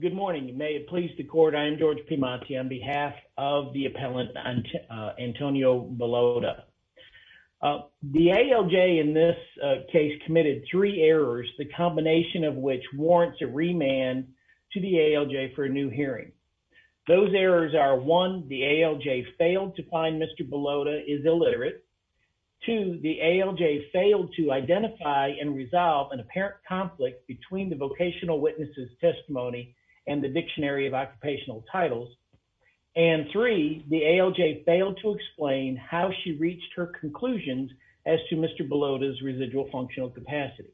Good morning. May it please the court. I'm George Pimanti on behalf of the appellant Antonio Bilotta. The ALJ in this case committed three errors, the combination of which warrants a remand to the ALJ for a new hearing. Those errors are one, the ALJ failed to find Mr. Bilotta is illiterate. Two, the ALJ failed to identify and resolve an apparent conflict between the vocational witnesses testimony and the dictionary of occupational titles. And three, the ALJ failed to explain how she reached her conclusions as to Mr. Bilotta's residual functional capacity.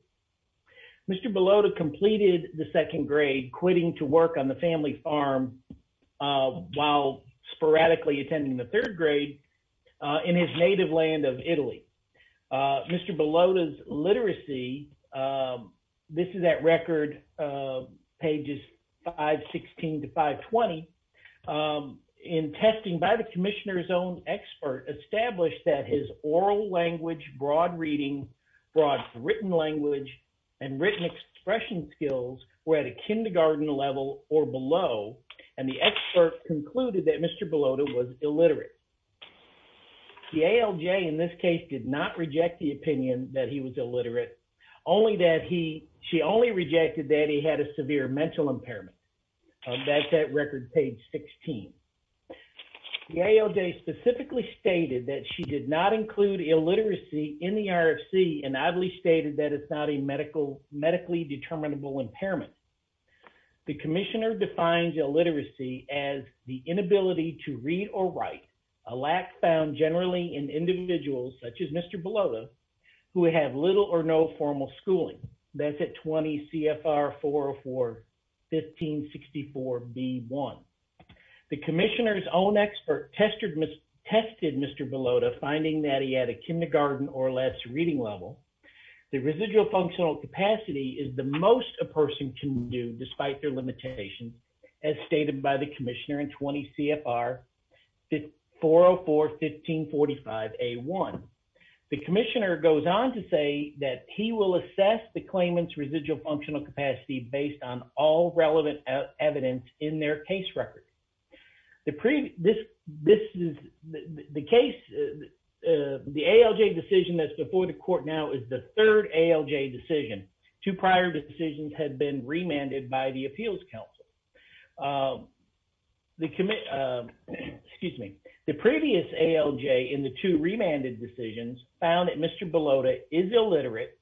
Mr. Bilotta completed the second grade quitting to work on the family farm while sporadically attending the third grade in his native land of Italy. Mr. Bilotta's literacy, this is at record pages 516 to 520, in testing by the commissioner's own expert established that his oral language, broad reading, broad written language, and written expression skills were at a kindergarten level or below. And the expert concluded that Mr. Bilotta was illiterate. The ALJ in this case did not reject the opinion that he was illiterate, only that he, she only rejected that he had a severe mental impairment. That's at record page 16. The ALJ specifically stated that she did not include illiteracy in the RFC and oddly stated that it's not a medically determinable impairment. The commissioner defines illiteracy as the a lack found generally in individuals such as Mr. Bilotta who have little or no formal schooling. That's at 20 CFR 404-1564-B1. The commissioner's own expert tested Mr. Bilotta finding that he had a kindergarten or less reading level. The residual functional capacity is the most a person can do at 20 CFR 404-1545-A1. The commissioner goes on to say that he will assess the claimant's residual functional capacity based on all relevant evidence in their case record. The previous, this, this is the case, the ALJ decision that's before the court now is the third ALJ decision. Two prior decisions had been remanded by the appeals council. The commit, excuse me, the previous ALJ in the two remanded decisions found that Mr. Bilotta is illiterate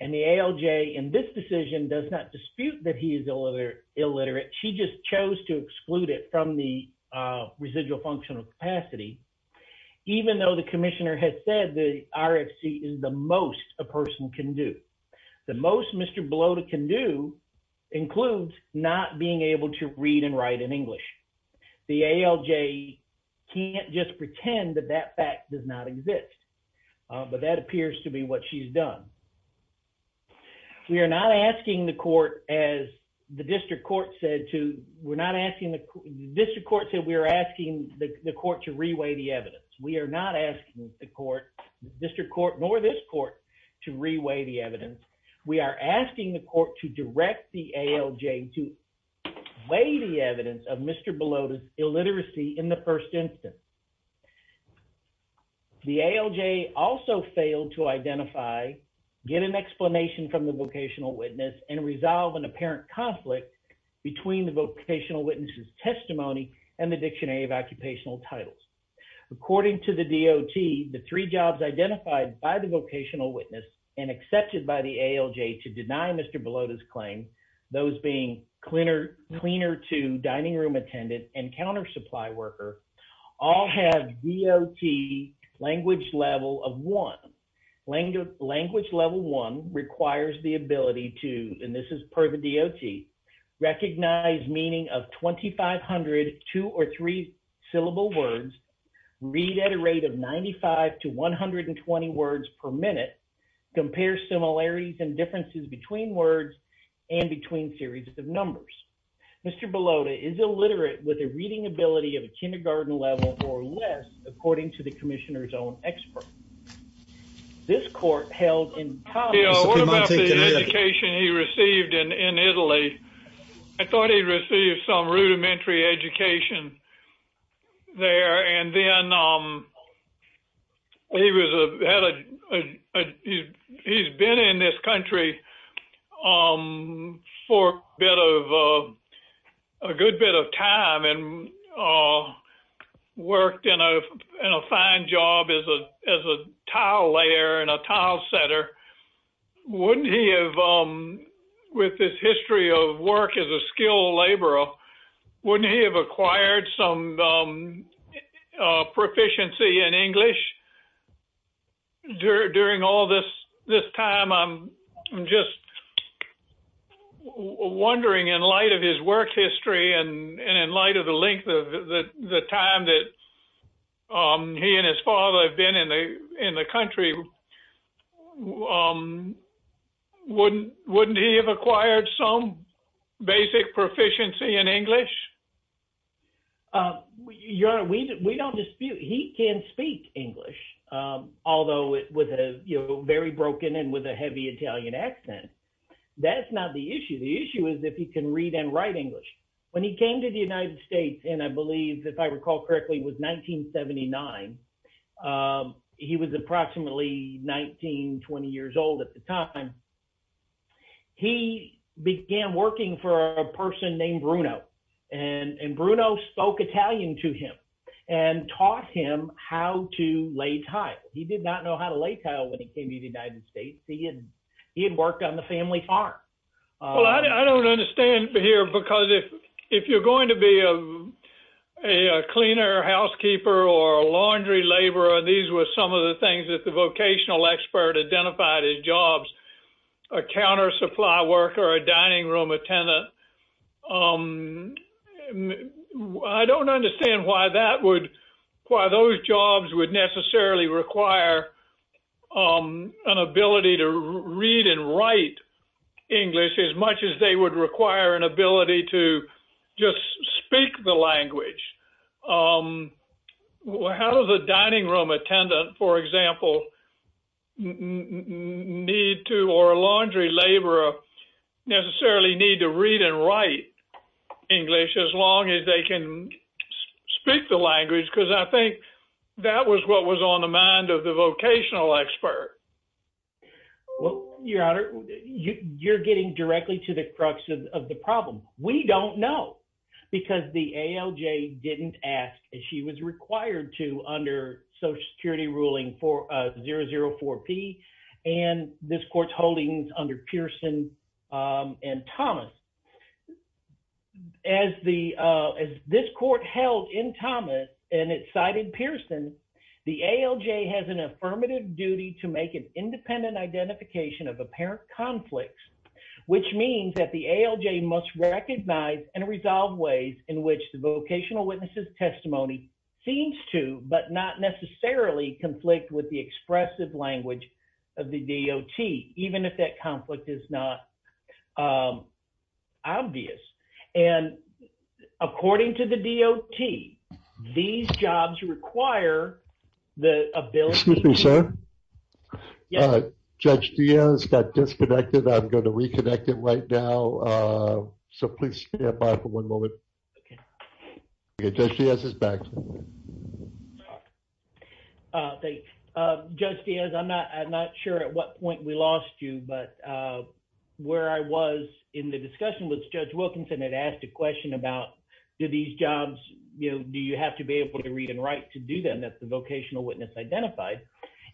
and the ALJ in this decision does not dispute that he is illiterate. She just chose to exclude it from the residual functional capacity even though the commissioner has said the person can do. The most Mr. Bilotta can do includes not being able to read and write in English. The ALJ can't just pretend that that fact does not exist but that appears to be what she's done. We are not asking the court as the district court said to, we're not asking the district court said we are asking the court to reweigh the evidence. We are not asking the court, district court nor this court to reweigh the evidence. We are asking the court to direct the ALJ to weigh the evidence of Mr. Bilotta's illiteracy in the first instance. The ALJ also failed to identify, get an explanation from the vocational witness and resolve an apparent conflict between the vocational witness's testimony and the dictionary of occupational titles. According to the DOT, the three jobs identified by the vocational witness and accepted by the ALJ to deny Mr. Bilotta's claim, those being cleaner to dining room attendant and counter supply worker all have DOT language level of one. Language level one requires the ability to, and this is per the read at a rate of 95 to 120 words per minute, compare similarities and differences between words and between series of numbers. Mr. Bilotta is illiterate with a reading ability of a kindergarten level or less, according to the commissioner's own expert. This court held in the education he received in Italy. I thought he received some rudimentary education there. And then he was a, he's been in this country for a bit of a good bit of time and he worked in a fine job as a tile layer and a tile setter. Wouldn't he have, with this history of work as a skilled laborer, wouldn't he have acquired some proficiency in English during all this time? I'm just wondering in light of his work history and in light of the length of the time that he and his father have been in the country, wouldn't he have acquired some basic proficiency in English? Your honor, we don't dispute, he can speak English, although with a very broken and with a heavy Italian accent. That's not the issue. The issue is if he can read and write English. When he came to the United States, and I believe if I recall correctly, it was 1979. He was approximately 19, 20 years old at the time. He began working for a person named Bruno and Bruno spoke Italian to him and taught him how to lay tile. He did not know how to lay tile when he came to the United States. He had worked on the family farm. Well, I don't understand here because if you're going to be a cleaner, housekeeper, or laundry laborer, these were some of the things that the vocational expert identified as jobs, a counter supply worker, a dining room attendant. I don't understand why that would, why those jobs would necessarily require an ability to read and write English as much as they would require an ability to just speak the language. How does a dining room attendant, for example, need to or a laundry laborer necessarily need to read and write English as long as they can speak the language? Because I think that was what was on the mind of the vocational expert. Well, your honor, you're getting directly to the crux of the problem. We don't know because the ALJ didn't ask as she was required to under Social Security ruling 004P and this court's holdings under Pearson and Thomas. As this court held in Thomas and it cited Pearson, the ALJ has an affirmative duty to make an independent identification of apparent conflicts, which means that the ALJ must recognize and resolve ways in which the of the DOT, even if that conflict is not obvious. And according to the DOT, these jobs require the ability- Excuse me, sir. Judge Diaz got disconnected. I'm going to reconnect it right now. So please stand by for one moment. Okay. Judge Diaz is back. Okay. Judge Diaz, I'm not sure at what point we lost you, but where I was in the discussion with Judge Wilkinson had asked a question about do these jobs, do you have to be able to read and write to do them? That's the vocational witness identified.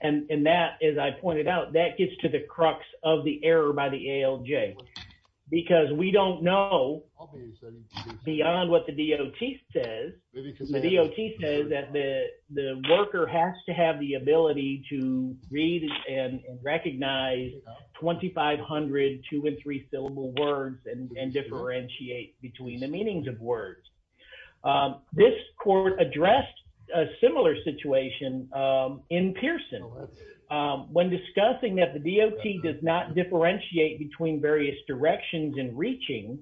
And that, as I pointed out, that gets to the crux of the error by the ALJ. Because we don't know beyond what the DOT says, the DOT says that the worker has to have the ability to read and recognize 2,500 two and three syllable words and differentiate between the meanings of words. This court addressed a similar situation in Pearson. When discussing that the DOT does not differentiate between various directions in reaching,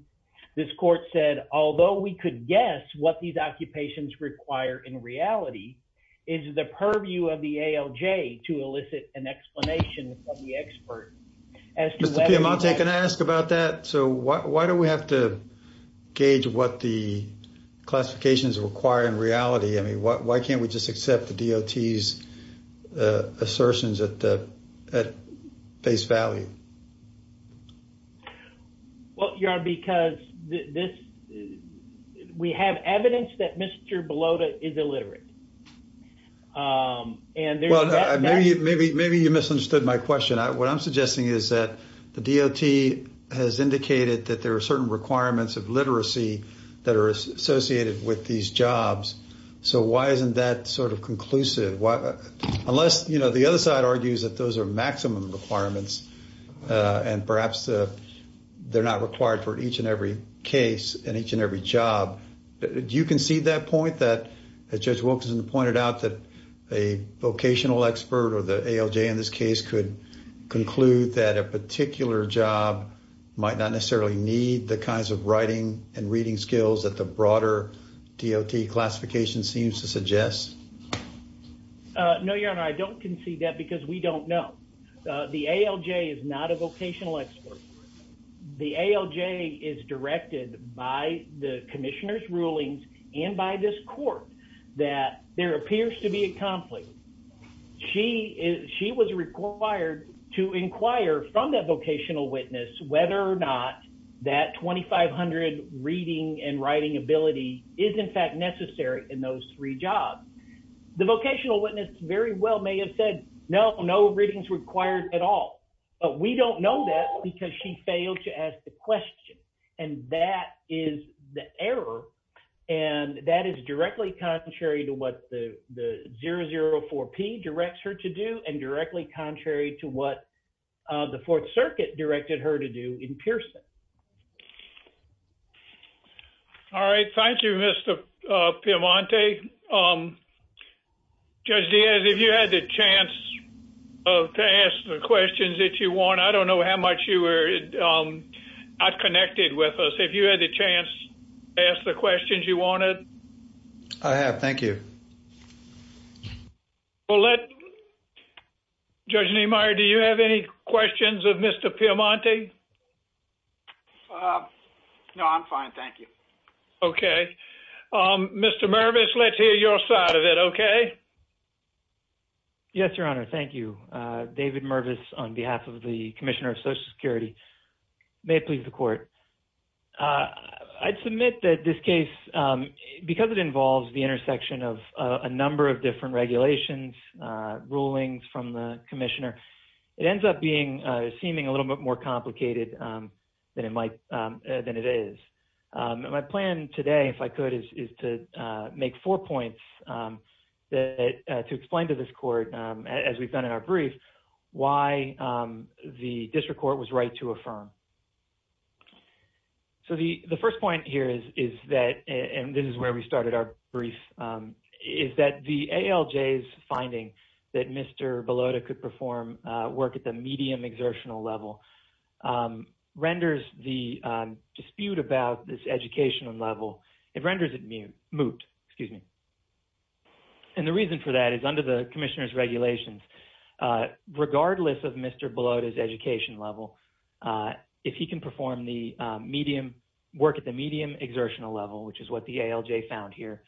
this court said, although we could guess what these occupations require in reality is the purview of the ALJ to elicit an explanation of the expert. Mr. Piemonte, can I ask about that? So why do we have to gauge what the classifications require in reality? I mean, why can't we just accept the DOT's assertions at face value? Well, Your Honor, because this, we have evidence that Mr. Belota is illiterate. And there's that- Well, maybe you misunderstood my question. What I'm suggesting is that the DOT has indicated that there are certain requirements of literacy that are associated with these jobs. So why isn't that sort of conclusive? Unless, you know, the other side argues that those are maximum requirements and perhaps they're not required for each and every case and each and every job. Do you concede that point that, as Judge Wilkinson pointed out, that a vocational expert or the ALJ in this case could conclude that a particular job might not necessarily need the kinds of writing and reading skills that the broader DOT classification seems to suggest? No, Your Honor, I don't concede that because we don't know. The ALJ is not a vocational expert. The ALJ is directed by the Commissioner's rulings and by this court that there appears to be a conflict. She was required to inquire from that vocational witness whether or not that 2500 reading and writing ability is in fact necessary in those three jobs. The vocational witness very well may have said no, no readings required at all. But we don't know that because she failed to ask the question. And that is the error and that is directly contrary to what the 004P directs her to do and directly contrary to what the Fourth Circuit directed her to do in Pearson. All right. Thank you, Mr. Piemonte. Judge Diaz, if you had the chance to ask the questions that you want, I don't know how much you were not connected with us. If you had the chance to ask the questions you wanted. I have. Thank you. Well, Judge Niemeyer, do you have any questions of Mr. Piemonte? No, I'm fine. Thank you. Okay. Mr. Mervis, let's hear your side of it. Okay. Yes, Your Honor. Thank you. David Mervis on behalf of the Commissioner of Social Security. May it please the Court. I'd submit that this case, because it involves the intersection of a number of different regulations, rulings from the Commissioner, it ends up being, seeming a little bit more complicated than it might, than it is. My plan today, if I could, is to make four points that, to explain to this Court, as we've done in our brief, why the District Court was right to affirm. So the first point here is that, and this is where we started our brief, is that the ALJ's finding that Mr. Bellotta could perform work at the medium exertional level, renders the dispute about this educational level, it renders it moot. And the reason for that is the Commissioner's regulations, regardless of Mr. Bellotta's education level, if he can perform the medium, work at the medium exertional level, which is what the ALJ found here,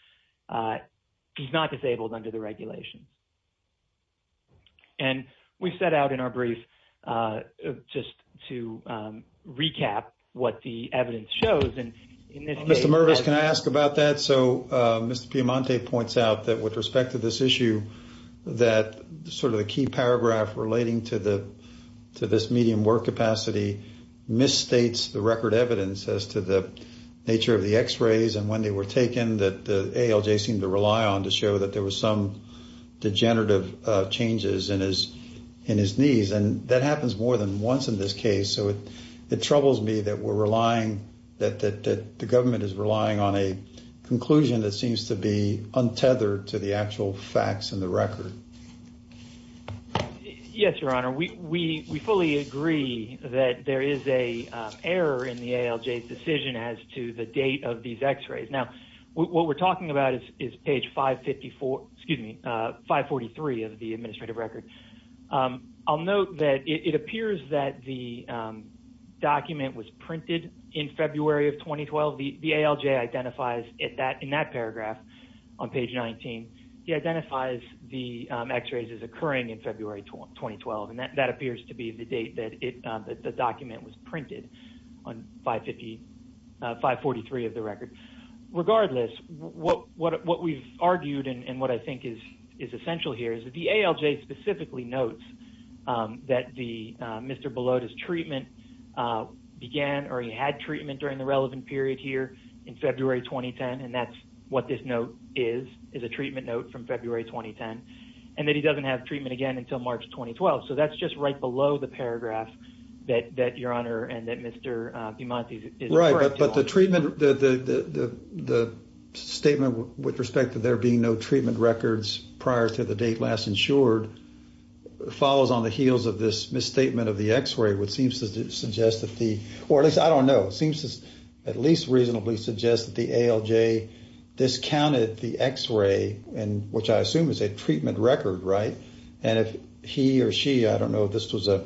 he's not disabled under the regulations. And we've set out in our brief, just to recap what the evidence shows, and in this case- Mr. Mervis, can I ask about that? So Mr. Piemonte points out that, with respect to this issue, that sort of the key paragraph relating to this medium work capacity misstates the record evidence as to the nature of the x-rays and when they were taken, that the ALJ seemed to rely on to show that there was some degenerative changes in his knees. And that happens more than once in this case. So it troubles me that we're relying, that the conclusion that seems to be untethered to the actual facts in the record. Yes, Your Honor. We fully agree that there is a error in the ALJ's decision as to the date of these x-rays. Now, what we're talking about is page 554, excuse me, 543 of the administrative record. I'll note that it appears that the document was printed in February of 2012. The ALJ identifies in that paragraph on page 19, he identifies the x-rays as occurring in February 2012, and that appears to be the date that the document was printed on 543 of the record. Regardless, what we've argued and what I think is essential here is that the ALJ specifically notes that Mr. Belota's treatment began or he had treatment during the relevant period here in February 2010, and that's what this note is, is a treatment note from February 2010, and that he doesn't have treatment again until March 2012. So that's just right below the paragraph that Your Honor and that Mr. DiMonti is referring to. Right, but the treatment, the statement with respect to there being no treatment records prior to the date last insured follows on the heels of this misstatement of the x-ray, which seems to suggest that the, or at least I don't know, seems to at least reasonably suggest that the ALJ discounted the x-ray, which I assume is a treatment record, right? And if he or she, I don't know if this was a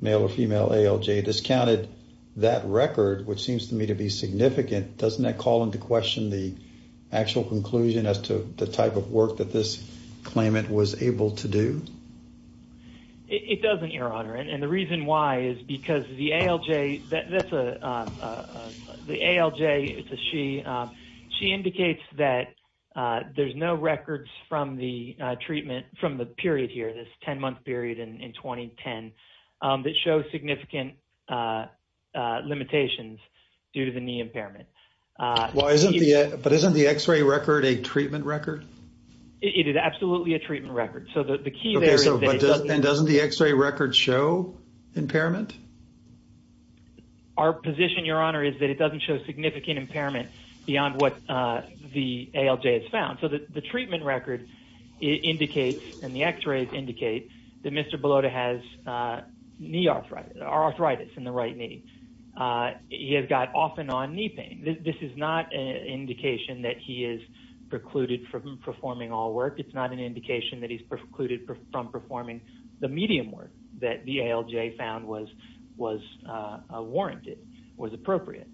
male or female ALJ, discounted that record, which seems to me to be significant, doesn't that call into question the actual conclusion as to the type of work that this claimant was able to do? It doesn't, Your Honor, and the reason why is because the ALJ is a she, she indicates that there's no records from the treatment, from the period here, this 10-month period in 2010, that show significant limitations due to the knee impairment. But isn't the x-ray record a treatment record? It is absolutely a treatment record. So the key And doesn't the x-ray record show impairment? Our position, Your Honor, is that it doesn't show significant impairment beyond what the ALJ has found. So the treatment record indicates, and the x-rays indicate, that Mr. Bellotta has knee arthritis, arthritis in the right knee. He has got off and on knee pain. This is not an indication that he is precluded from performing the medium work that the ALJ found was warranted, was appropriate.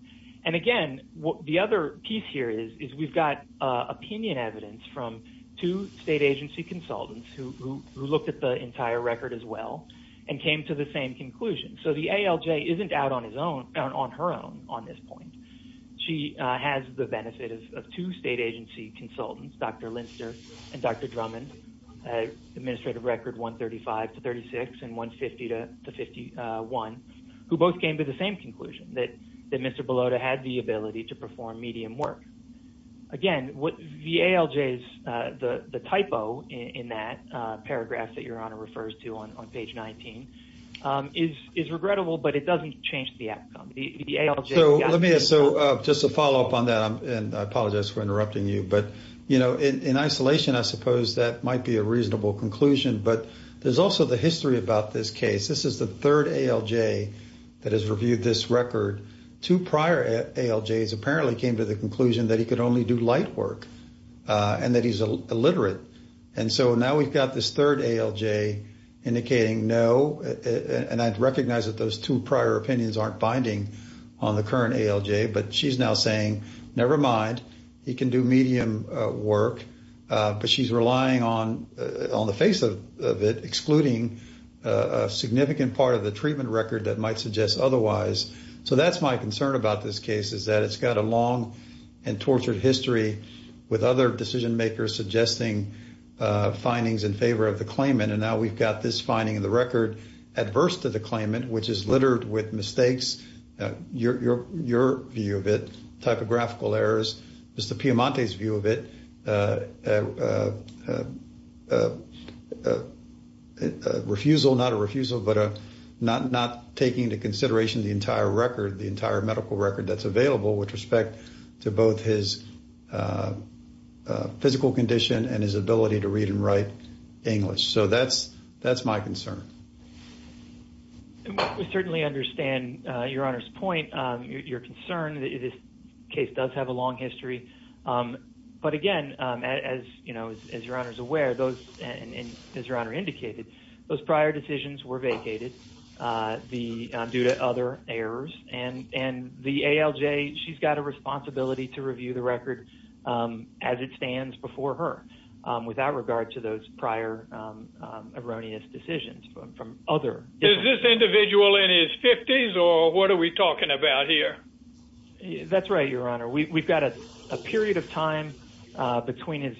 And again, the other piece here is we've got opinion evidence from two state agency consultants who looked at the entire record as well and came to the same conclusion. So the ALJ isn't out on her own on this point. She has the benefit of two state agency consultants, Dr. Linster and Dr. Drummond, administrative record 135 to 36 and 150 to 51, who both came to the same conclusion, that Mr. Bellotta had the ability to perform medium work. Again, the ALJ's, the typo in that paragraph that Your Honor refers to on page 19 is regrettable, but it doesn't change the outcome. So let me ask, just to follow up on that, and I apologize for interrupting you, but in isolation, I suppose that might be a reasonable conclusion, but there's also the history about this case. This is the third ALJ that has reviewed this record. Two prior ALJs apparently came to the conclusion that he could only do light work and that he's illiterate. And so now we've got this third ALJ indicating no, and I'd recognize that those two prior opinions aren't binding on the current ALJ, but she's now saying, nevermind, he can do medium work, but she's relying on the face of it, excluding a significant part of the treatment record that might suggest otherwise. So that's my concern about this case, is that it's got a long and tortured history with other decision makers suggesting findings in favor of the claimant. And now we've got this your view of it, typographical errors, Mr. Piamonte's view of it, refusal, not a refusal, but not taking into consideration the entire record, the entire medical record that's available with respect to both his physical condition and his ability to read and write English. So that's my concern. And we certainly understand your Honor's point, your concern that this case does have a long history. But again, as your Honor's aware, and as your Honor indicated, those prior decisions were vacated due to other errors. And the ALJ, she's got a responsibility to review the record as it from other. Is this individual in his 50s or what are we talking about here? That's right, your Honor. We've got a period of time between his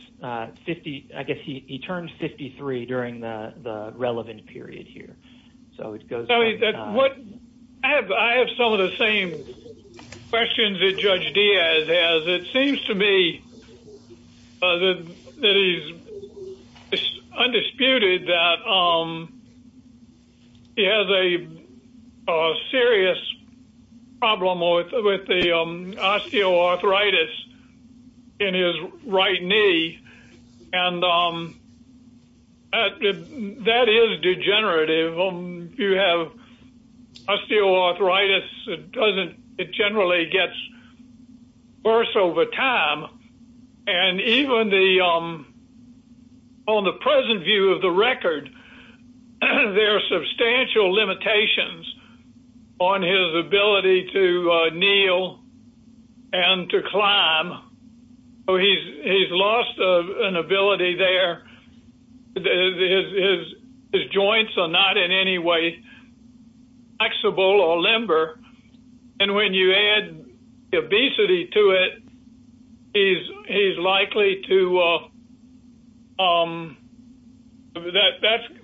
50, I guess he turned 53 during the relevant period here. So it goes. I have some of the same questions that Judge Diaz has. It has a serious problem with the osteoarthritis in his right knee. And that is degenerative. You have osteoarthritis, it doesn't, it generally gets worse over time. And even on the present view of the record, there are substantial limitations on his ability to kneel and to climb. He's lost an ability there. His joints are not in any way flexible or limber. And when you add obesity to it, he's likely to,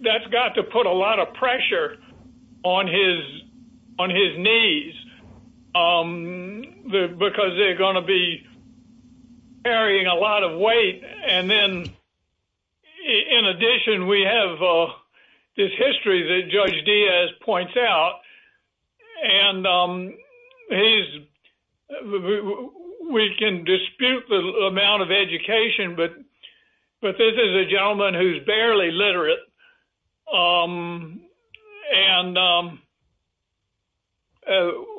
that's got to put a lot of pressure on his knees because they're going to be carrying a lot of weight. And then in addition, we have this history that Judge Diaz points out. And he's, we can dispute the amount of education, but this is a gentleman who's barely literate. And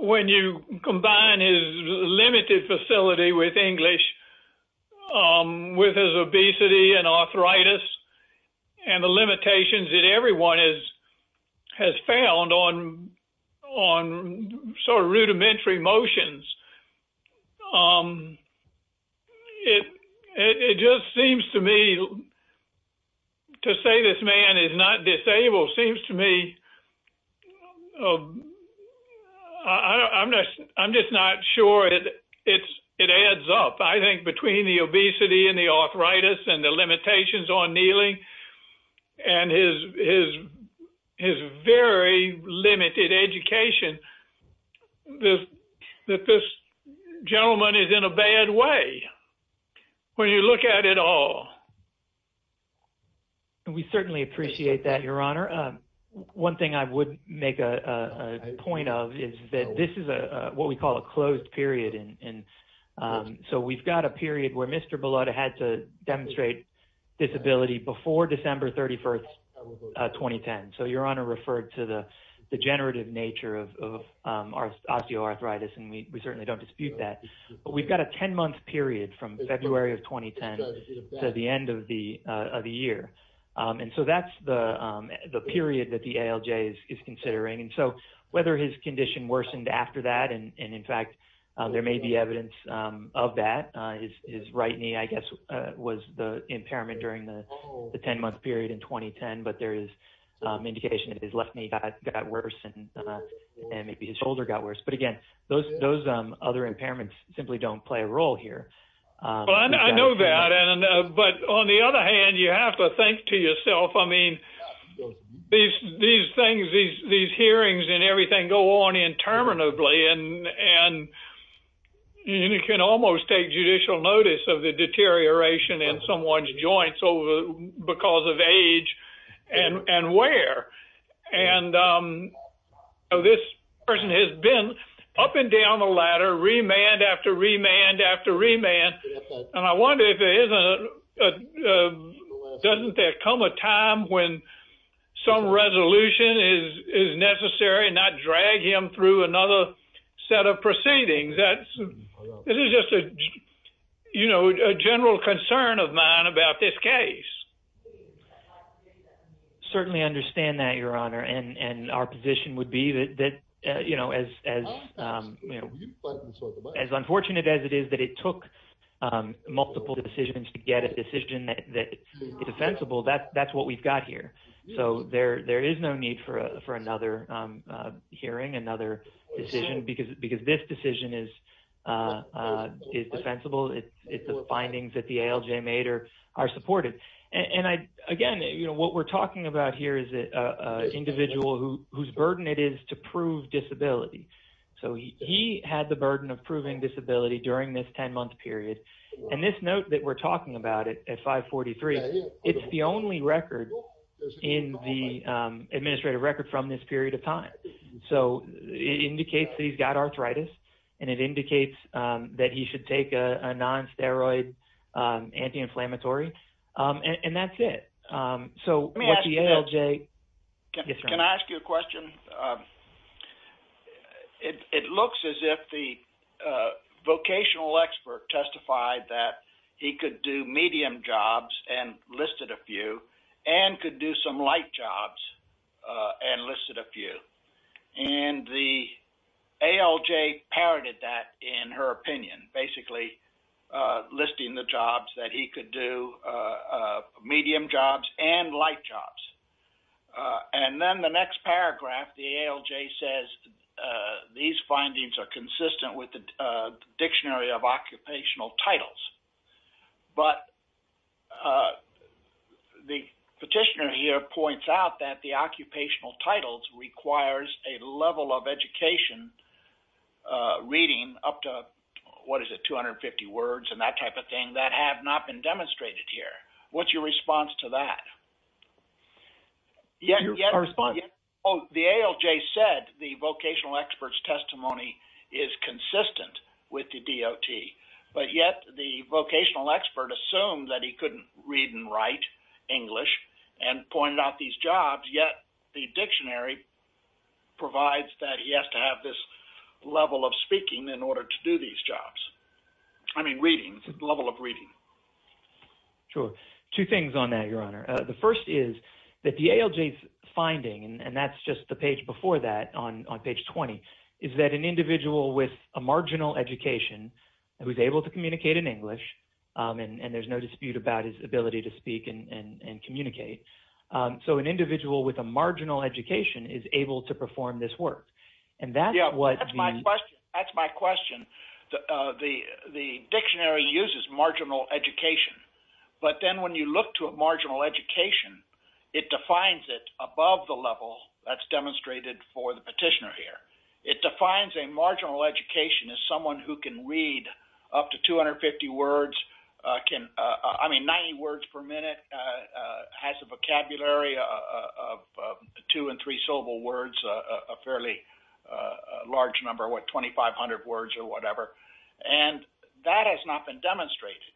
when you combine his limited facility with English, with his obesity and arthritis, and the limitations that everyone has found on sort of rudimentary motions, it just seems to me, to say this man is not disabled seems to me, I'm just not sure that it adds up. I think between the obesity and the arthritis and the gentleman is in a bad way when you look at it all. We certainly appreciate that, Your Honor. One thing I would make a point of is that this is what we call a closed period. And so we've got a period where Mr. Bellotta had to demonstrate disability before December 31st, 2010. So Your Honor referred to the generative nature of osteoarthritis, and we certainly don't dispute that. But we've got a 10-month period from February of 2010 to the end of the year. And so that's the period that the ALJ is considering. And so whether his condition worsened after that, and in fact, there may be evidence of that. His right knee, I guess, was the impairment during the 10-month period in 2010, but there is indication that his left knee got worse, and maybe his shoulder got worse. But again, those other impairments simply don't play a role here. I know that. But on the other hand, you have to think to yourself, I mean, these things, these hearings and everything go on interminably. And you can almost take judicial notice of the deterioration in someone's joints because of age and wear. And this person has been up and down the ladder, remand after remand after remand. And I wonder if there isn't a doesn't there come a time when some resolution is necessary and not drag him through another set of proceedings. This is just a general concern of mine about this case. Certainly understand that, Your Honor. And our position would be that as unfortunate as it is that it took multiple decisions to get a decision that is defensible, that's what we've got here. So there is no need for another hearing, another decision, because this decision is defensible. It's the findings that the ALJ made are supportive. And again, what we're talking about here is an individual whose burden it is to prove disability. So he had the burden of proving disability during this 10-month period. And this note that we're talking about at 543, it's the record in the administrative record from this period of time. So it indicates that he's got arthritis, and it indicates that he should take a non-steroid anti-inflammatory. And that's it. Can I ask you a question? It looks as if the vocational expert testified that he could do medium jobs and listed a few, and could do some light jobs and listed a few. And the ALJ parroted that in her opinion, basically listing the jobs that he could do, medium jobs and light jobs. And then the next paragraph, the ALJ says, these findings are consistent with the Dictionary of Occupational Titles. But the petitioner here points out that the occupational titles requires a level of education reading up to, what is it, 250 words and that type of thing that have not been demonstrated here. What's your response to that? The ALJ said the vocational expert's testimony is consistent with the DOT, but yet the vocational expert assumed that he couldn't read and write English and pointed out these jobs, yet the dictionary provides that he has to have this level of reading. Sure. Two things on that, Your Honor. The first is that the ALJ's finding, and that's just the page before that on page 20, is that an individual with a marginal education who's able to communicate in English, and there's no dispute about his ability to speak and communicate, so an individual with a marginal education is able to perform this work. And that's what... That's my question. The dictionary uses marginal education, but then when you look to a marginal education, it defines it above the level that's demonstrated for the petitioner here. It defines a marginal education as someone who can read up to 250 words, can, I mean, 90 words per minute, has a vocabulary of two and three-syllable words, a fairly large number, what, 2,500 words or whatever, and that has not been demonstrated.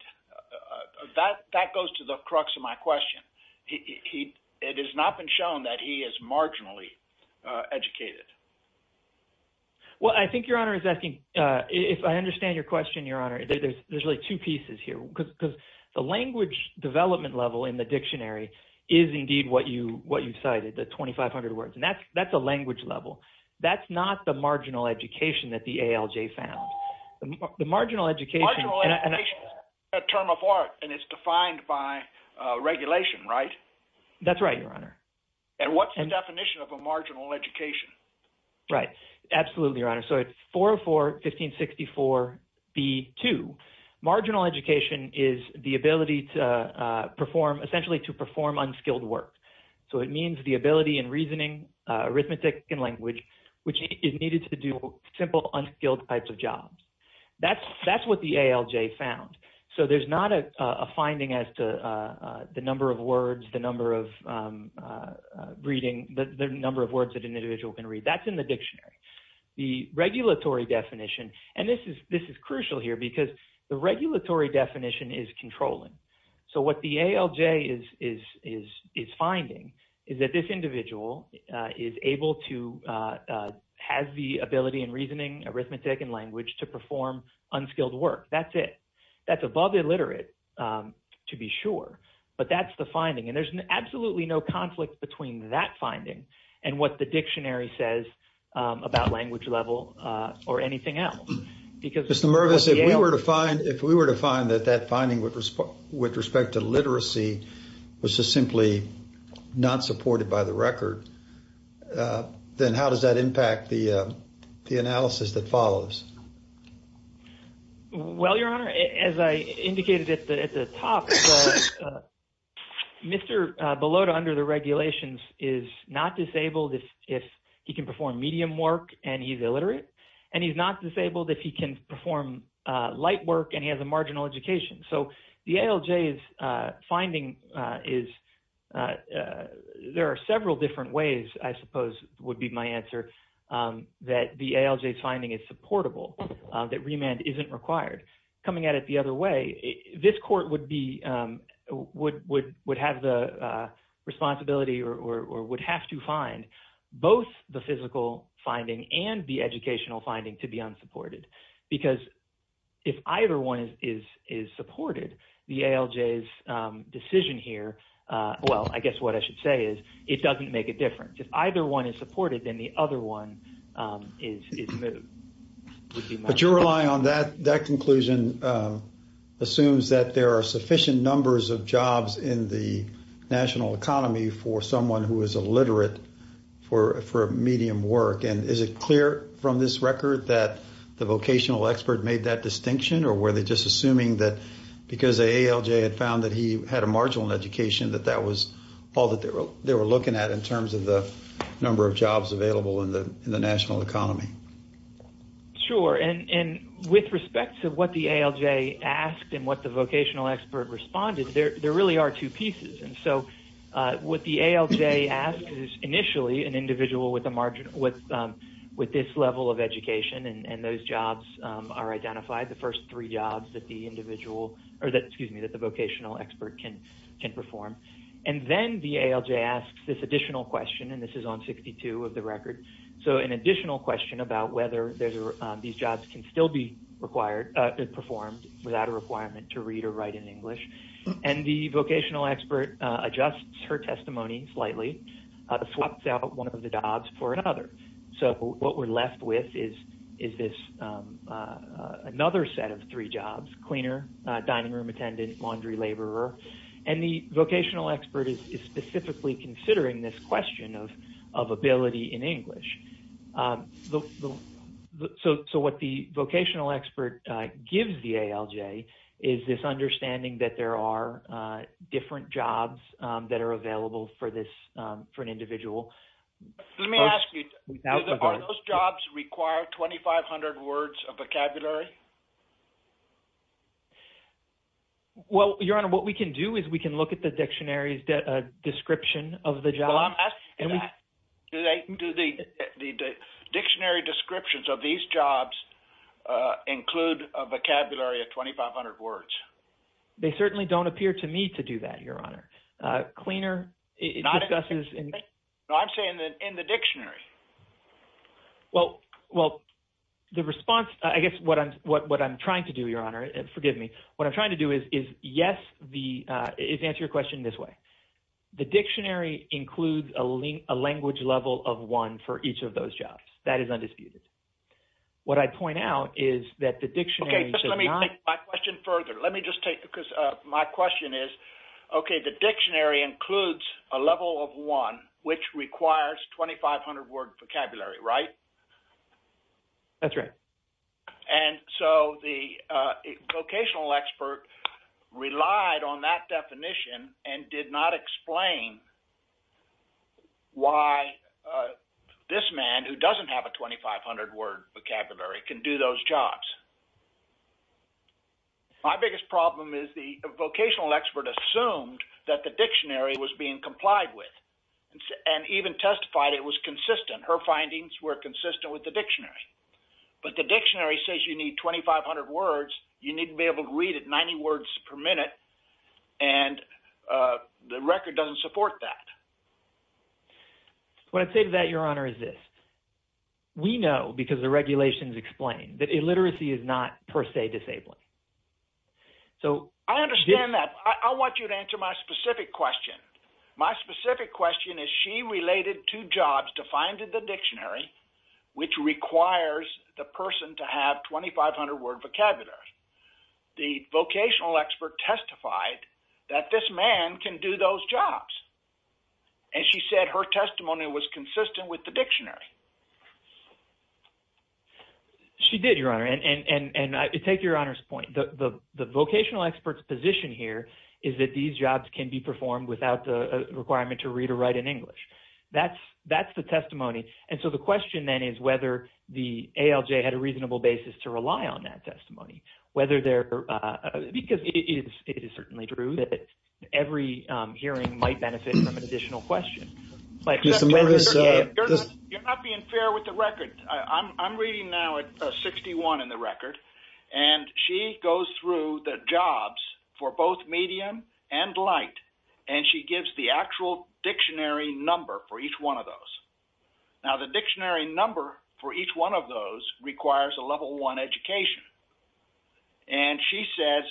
That goes to the crux of my question. It has not been shown that he is marginally educated. Well, I think Your Honor is asking... If I understand your question, Your Honor, there's really two pieces here, because the language development level in the dictionary is indeed what you cited, the 2,500 words, and that's a language level. That's not the marginal education that the ALJ found. The marginal education... Marginal education is a term of art, and it's defined by regulation, right? That's right, Your Honor. And what's the definition of a marginal education? Right. Absolutely, Your Honor. So it's 404-1564-B2. Marginal education is the ability to perform, essentially to perform unskilled work. So it means the ability in reasoning, arithmetic, and language, which is needed to do simple, unskilled types of jobs. That's what the ALJ found. So there's not a finding as to the number of words, the number of reading, the number of words an individual can read. That's in the dictionary. The regulatory definition, and this is crucial here, because the regulatory definition is controlling. So what the ALJ is finding is that this individual is able to... Has the ability in reasoning, arithmetic, and language to perform unskilled work. That's it. That's above illiterate, to be sure, but that's the finding. There's absolutely no conflict between that finding and what the dictionary says about language level or anything else. Mr. Mervis, if we were to find that that finding with respect to literacy was just simply not supported by the record, then how does that impact the analysis that follows? Well, Your Honor, as I indicated at the top, Mr. Belotta under the regulations is not disabled if he can perform medium work and he's illiterate, and he's not disabled if he can perform light work and he has a marginal education. So the ALJ's finding is... There are several different ways, I suppose, would be my answer that the ALJ's finding is supportable, that remand isn't required. Coming at it the other way, this court would have the responsibility or would have to find both the physical finding and the educational finding to be unsupported, because if either one is supported, the ALJ's decision here... Well, I guess what I should say is it doesn't make a difference. If either one is supported, then the other one is moved. But you're relying on that conclusion assumes that there are sufficient numbers of jobs in the national economy for someone who is illiterate for medium work. And is it clear from this record that the vocational expert made that distinction, or were they just assuming that because the ALJ had found that he had a marginal education that that was all that they were looking at in terms of the number of jobs available in the national economy? Sure. And with respect to what the ALJ asked and what the vocational expert responded, there really are two pieces. And so what the ALJ asked is initially an individual with this level of education, and those jobs are identified, the first three jobs that the vocational expert can perform. And then the ALJ asks this additional question, and this is on 62 of the record. So an additional question about whether these jobs can still be performed without a requirement to read or write in English. And the vocational expert adjusts her testimony slightly, swaps out one of the jobs for another. So what we're left with is this another set of three jobs, cleaner, dining room attendant, laundry laborer. And the vocational expert is specifically considering this question of ability in English. So what the vocational expert gives the ALJ is this understanding that there are different jobs that are available for an individual. Let me ask you, are those jobs require 2,500 words of vocabulary? Well, Your Honor, what we can do is we can look at the dictionary's description of the job. Do the dictionary descriptions of these jobs include a vocabulary of 2,500 words? They certainly don't appear to me to do that, Your Honor. Cleaner, it discusses... No, I'm saying that in the dictionary. Well, the response, I guess what I'm trying to do, Your Honor, forgive me. What I'm trying to do is answer your question this way. The dictionary includes a language level of one for each of those jobs. That is undisputed. What I point out is that the dictionary... Let me take my question further. Let me just take it because my question is, okay, the dictionary includes a level of one, which requires 2,500 word vocabulary, right? That's right. And so the vocational expert relied on that definition and did not explain why this man who doesn't have a 2,500 word vocabulary can do those jobs. My biggest problem is the vocational expert assumed that the dictionary was being complied with and even testified it was consistent. Her findings were consistent with the dictionary. But the dictionary says you need 2,500 words. You need to be able to read it 90 words per minute, and the record doesn't support that. What I'd say to that, Your Honor, is this. We know because the regulations explain that per se disabling. I understand that. I want you to answer my specific question. My specific question is, she related two jobs defined in the dictionary, which requires the person to have 2,500 word vocabulary. The vocational expert testified that this man can do those jobs, and she said her testimony was consistent with the dictionary. She did, Your Honor, and I take Your Honor's point. The vocational expert's position here is that these jobs can be performed without the requirement to read or write in English. That's the testimony. And so the question then is whether the ALJ had a reasonable basis to rely on that testimony. Because it is certainly true that every hearing might benefit from an record. I'm reading now at 61 in the record, and she goes through the jobs for both medium and light, and she gives the actual dictionary number for each one of those. Now, the dictionary number for each one of those requires a level one education. And she says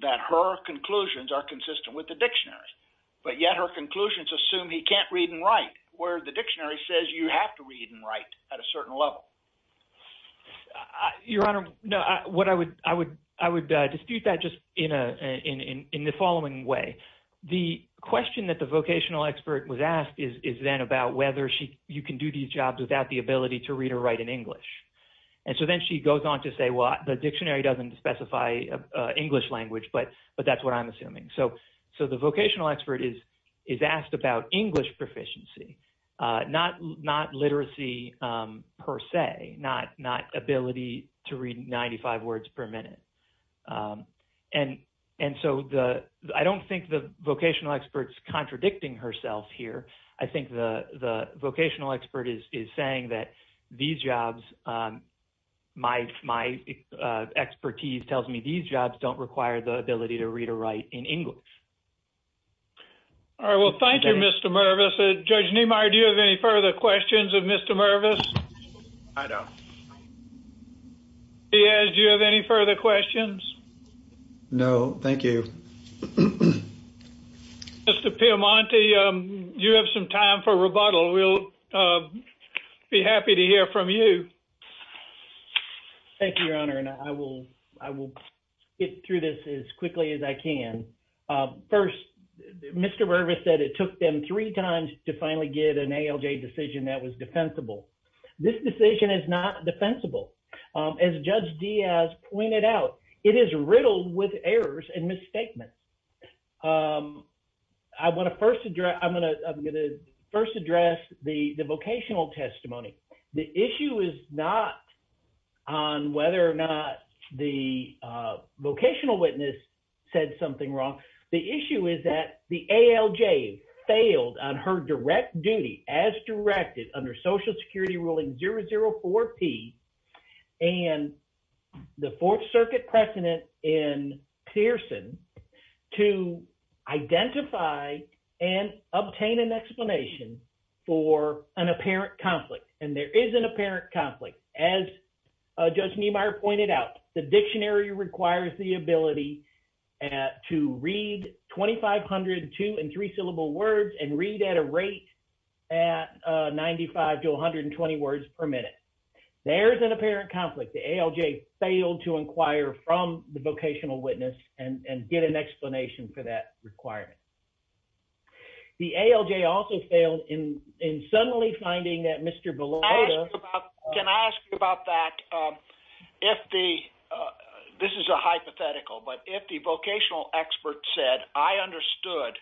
that her conclusions are consistent with the dictionary, but yet her conclusions assume he can't read and write, where the dictionary says you have to read and write at a certain level. Your Honor, I would dispute that just in the following way. The question that the vocational expert was asked is then about whether you can do these jobs without the ability to read or write in English. And so then she goes on to say, well, the dictionary doesn't specify English language, but that's what I'm assuming. So the vocational expert is asked about English proficiency, not literacy per se, not ability to read 95 words per minute. And so I don't think the vocational expert's contradicting herself here. I think the jobs don't require the ability to read or write in English. All right. Well, thank you, Mr. Mervis. Judge Niemeyer, do you have any further questions of Mr. Mervis? I don't. Diaz, do you have any further questions? No, thank you. Mr. Piemonte, you have some time for rebuttal. We'll be happy to hear from you. Thank you, Your Honor. And I will get through this as quickly as I can. First, Mr. Mervis said it took them three times to finally get an ALJ decision that was defensible. This decision is not defensible. As Judge Diaz pointed out, it is riddled with errors and misstatements. I'm going to first address the vocational testimony. The issue is not on whether or not the vocational witness said something wrong. The issue is that the ALJ failed on her direct duty as directed under Social Security Ruling 004P and the Fourth Circuit precedent in Pearson to identify and obtain an explanation for an apparent conflict. And there is an apparent conflict. As Judge Niemeyer pointed out, the dictionary requires the ability to read 2,500 two- and three-syllable words and read at a rate at 95 to 120 words per minute. There is an apparent conflict. The ALJ failed to inquire from the vocational witness and get an explanation for that requirement. The ALJ also failed in suddenly finding that Mr. Bellotta— I understood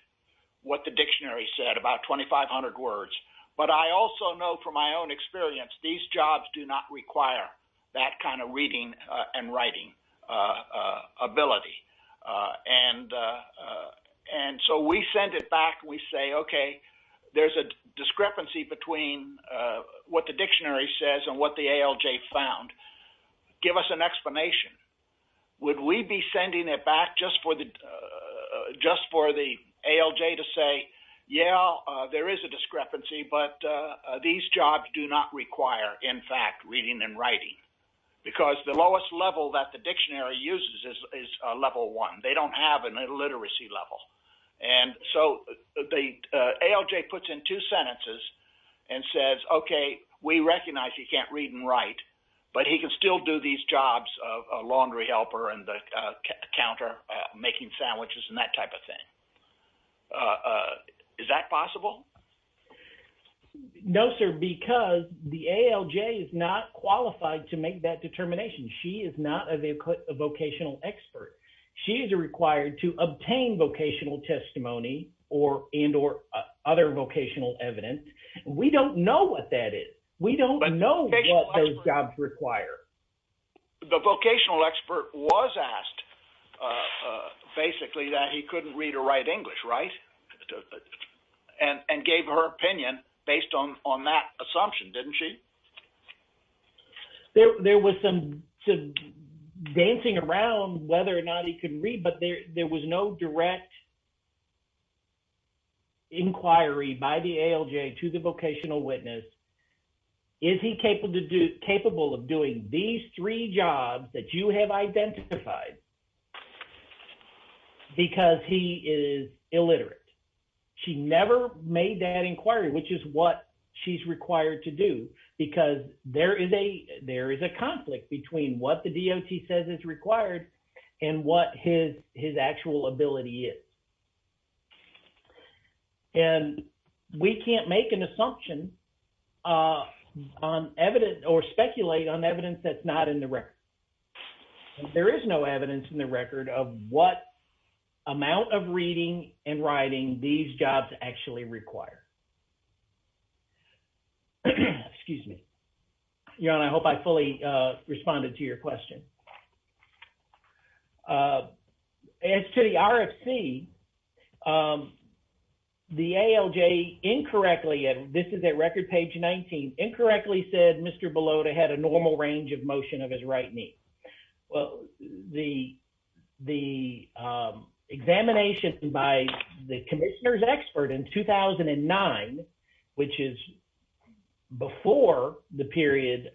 what the dictionary said, about 2,500 words, but I also know from my own experience these jobs do not require that kind of reading and writing ability. So we send it back. We say, okay, there's a discrepancy between what the dictionary says and what the ALJ found. Give us an explanation. Would we be sending it back just for the ALJ to say, yeah, there is a discrepancy, but these jobs do not require, in fact, reading and writing? Because the lowest level that the dictionary uses is level one. They don't have a literacy level. And so the ALJ puts in two sentences and says, okay, we recognize he can't read and write, but he can still do these jobs of laundry helper and the counter making sandwiches and that type of thing. Is that possible? No, sir, because the ALJ is not qualified to make that determination. She is not a vocational expert. She is required to obtain vocational testimony and or other vocational evidence. We don't know what that is. We don't know what those jobs require. The vocational expert was asked, basically, that he couldn't read or write English, right? And gave her opinion based on that assumption, didn't she? There was some dancing around whether or not he could read, but there was no direct inquiry by the ALJ to the vocational witness. Is he capable of doing these three jobs that you have identified because he is illiterate? She never made that inquiry, which is what she's required to do because there is a conflict between what the DOT says is required and what his actual ability is. And we can't make an assumption on evidence or speculate on evidence that's not in the record. And there is no evidence in the record of what amount of reading and writing these jobs actually require. Excuse me. Your Honor, I hope I fully responded to your question. As to the RFC, the ALJ incorrectly, this is at record page 19, incorrectly said Mr. Well, the examination by the commissioner's expert in 2009, which is before the period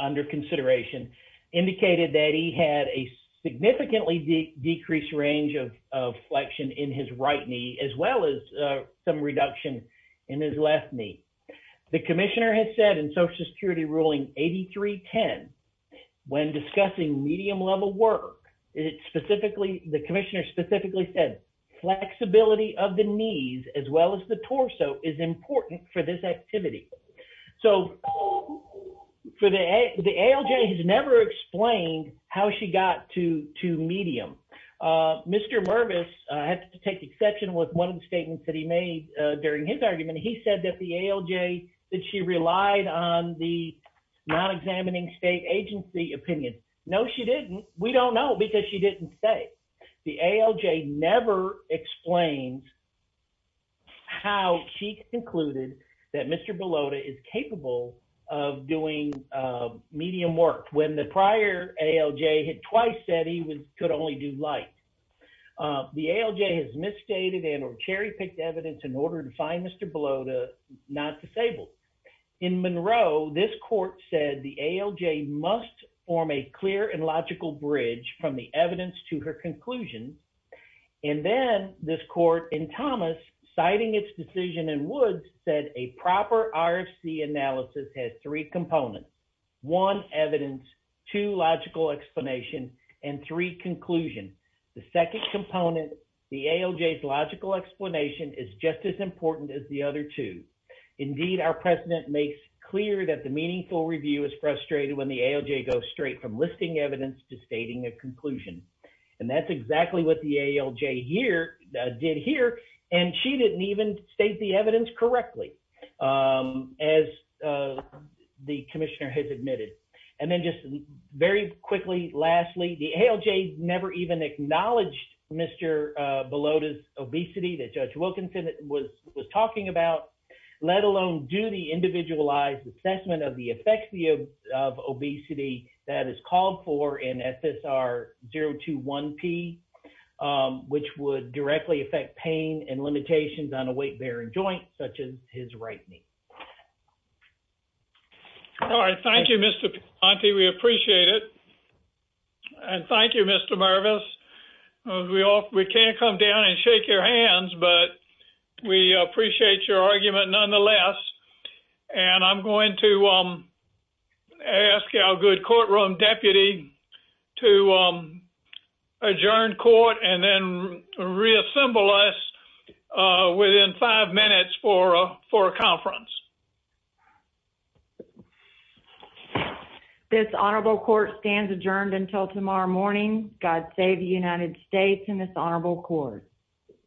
under consideration, indicated that he had a significantly decreased range of flexion in his right knee, as well as some reduction in his left knee. The commissioner has said in social security ruling 8310, when discussing medium level work, it specifically, the commissioner specifically said flexibility of the knees as well as the torso is important for this activity. So for the ALJ has never explained how she got to medium. Mr. Mervis had to take exception with one of the statements that he made during his argument. He said that the ALJ, that she relied on the non-examining state agency opinion. No, she didn't. We don't know because she didn't say. The ALJ never explains how she concluded that Mr. Bellota is capable of doing medium work when the prior ALJ had twice said he could only do light. The ALJ has misstated and or cherry picked evidence in order to find Mr. Bellota not disabled. In Monroe, this court said the ALJ must form a clear and logical bridge from the evidence to her conclusions. And then this court in Thomas citing its decision in Woods said a proper RFC analysis has three components, one evidence, two logical explanation, and three conclusion. The second component, the ALJ's logical explanation is just as important as the other two. Indeed, our president makes clear that the meaningful review is frustrated when the ALJ goes straight from listing evidence to stating a conclusion. And that's exactly what the ALJ did here. And she didn't even state the evidence correctly, as the commissioner has admitted. And then just very quickly, lastly, the ALJ never even acknowledged Mr. Bellota's obesity that Judge Wilkinson was talking about, let alone do the individualized assessment of the effects of obesity that is called for in FSR 021P, which would directly affect pain and limitations on a weight-bearing joint such as his right knee. All right. Thank you, Mr. Ponte. We appreciate it. And thank you, Mr. Mervis. We can't come down and shake your hands, but we appreciate your argument nonetheless. And I'm going to ask our good courtroom deputy to adjourn court and then reassemble us within five minutes for a conference. This honorable court stands adjourned until tomorrow morning. God save the United States and this honorable court.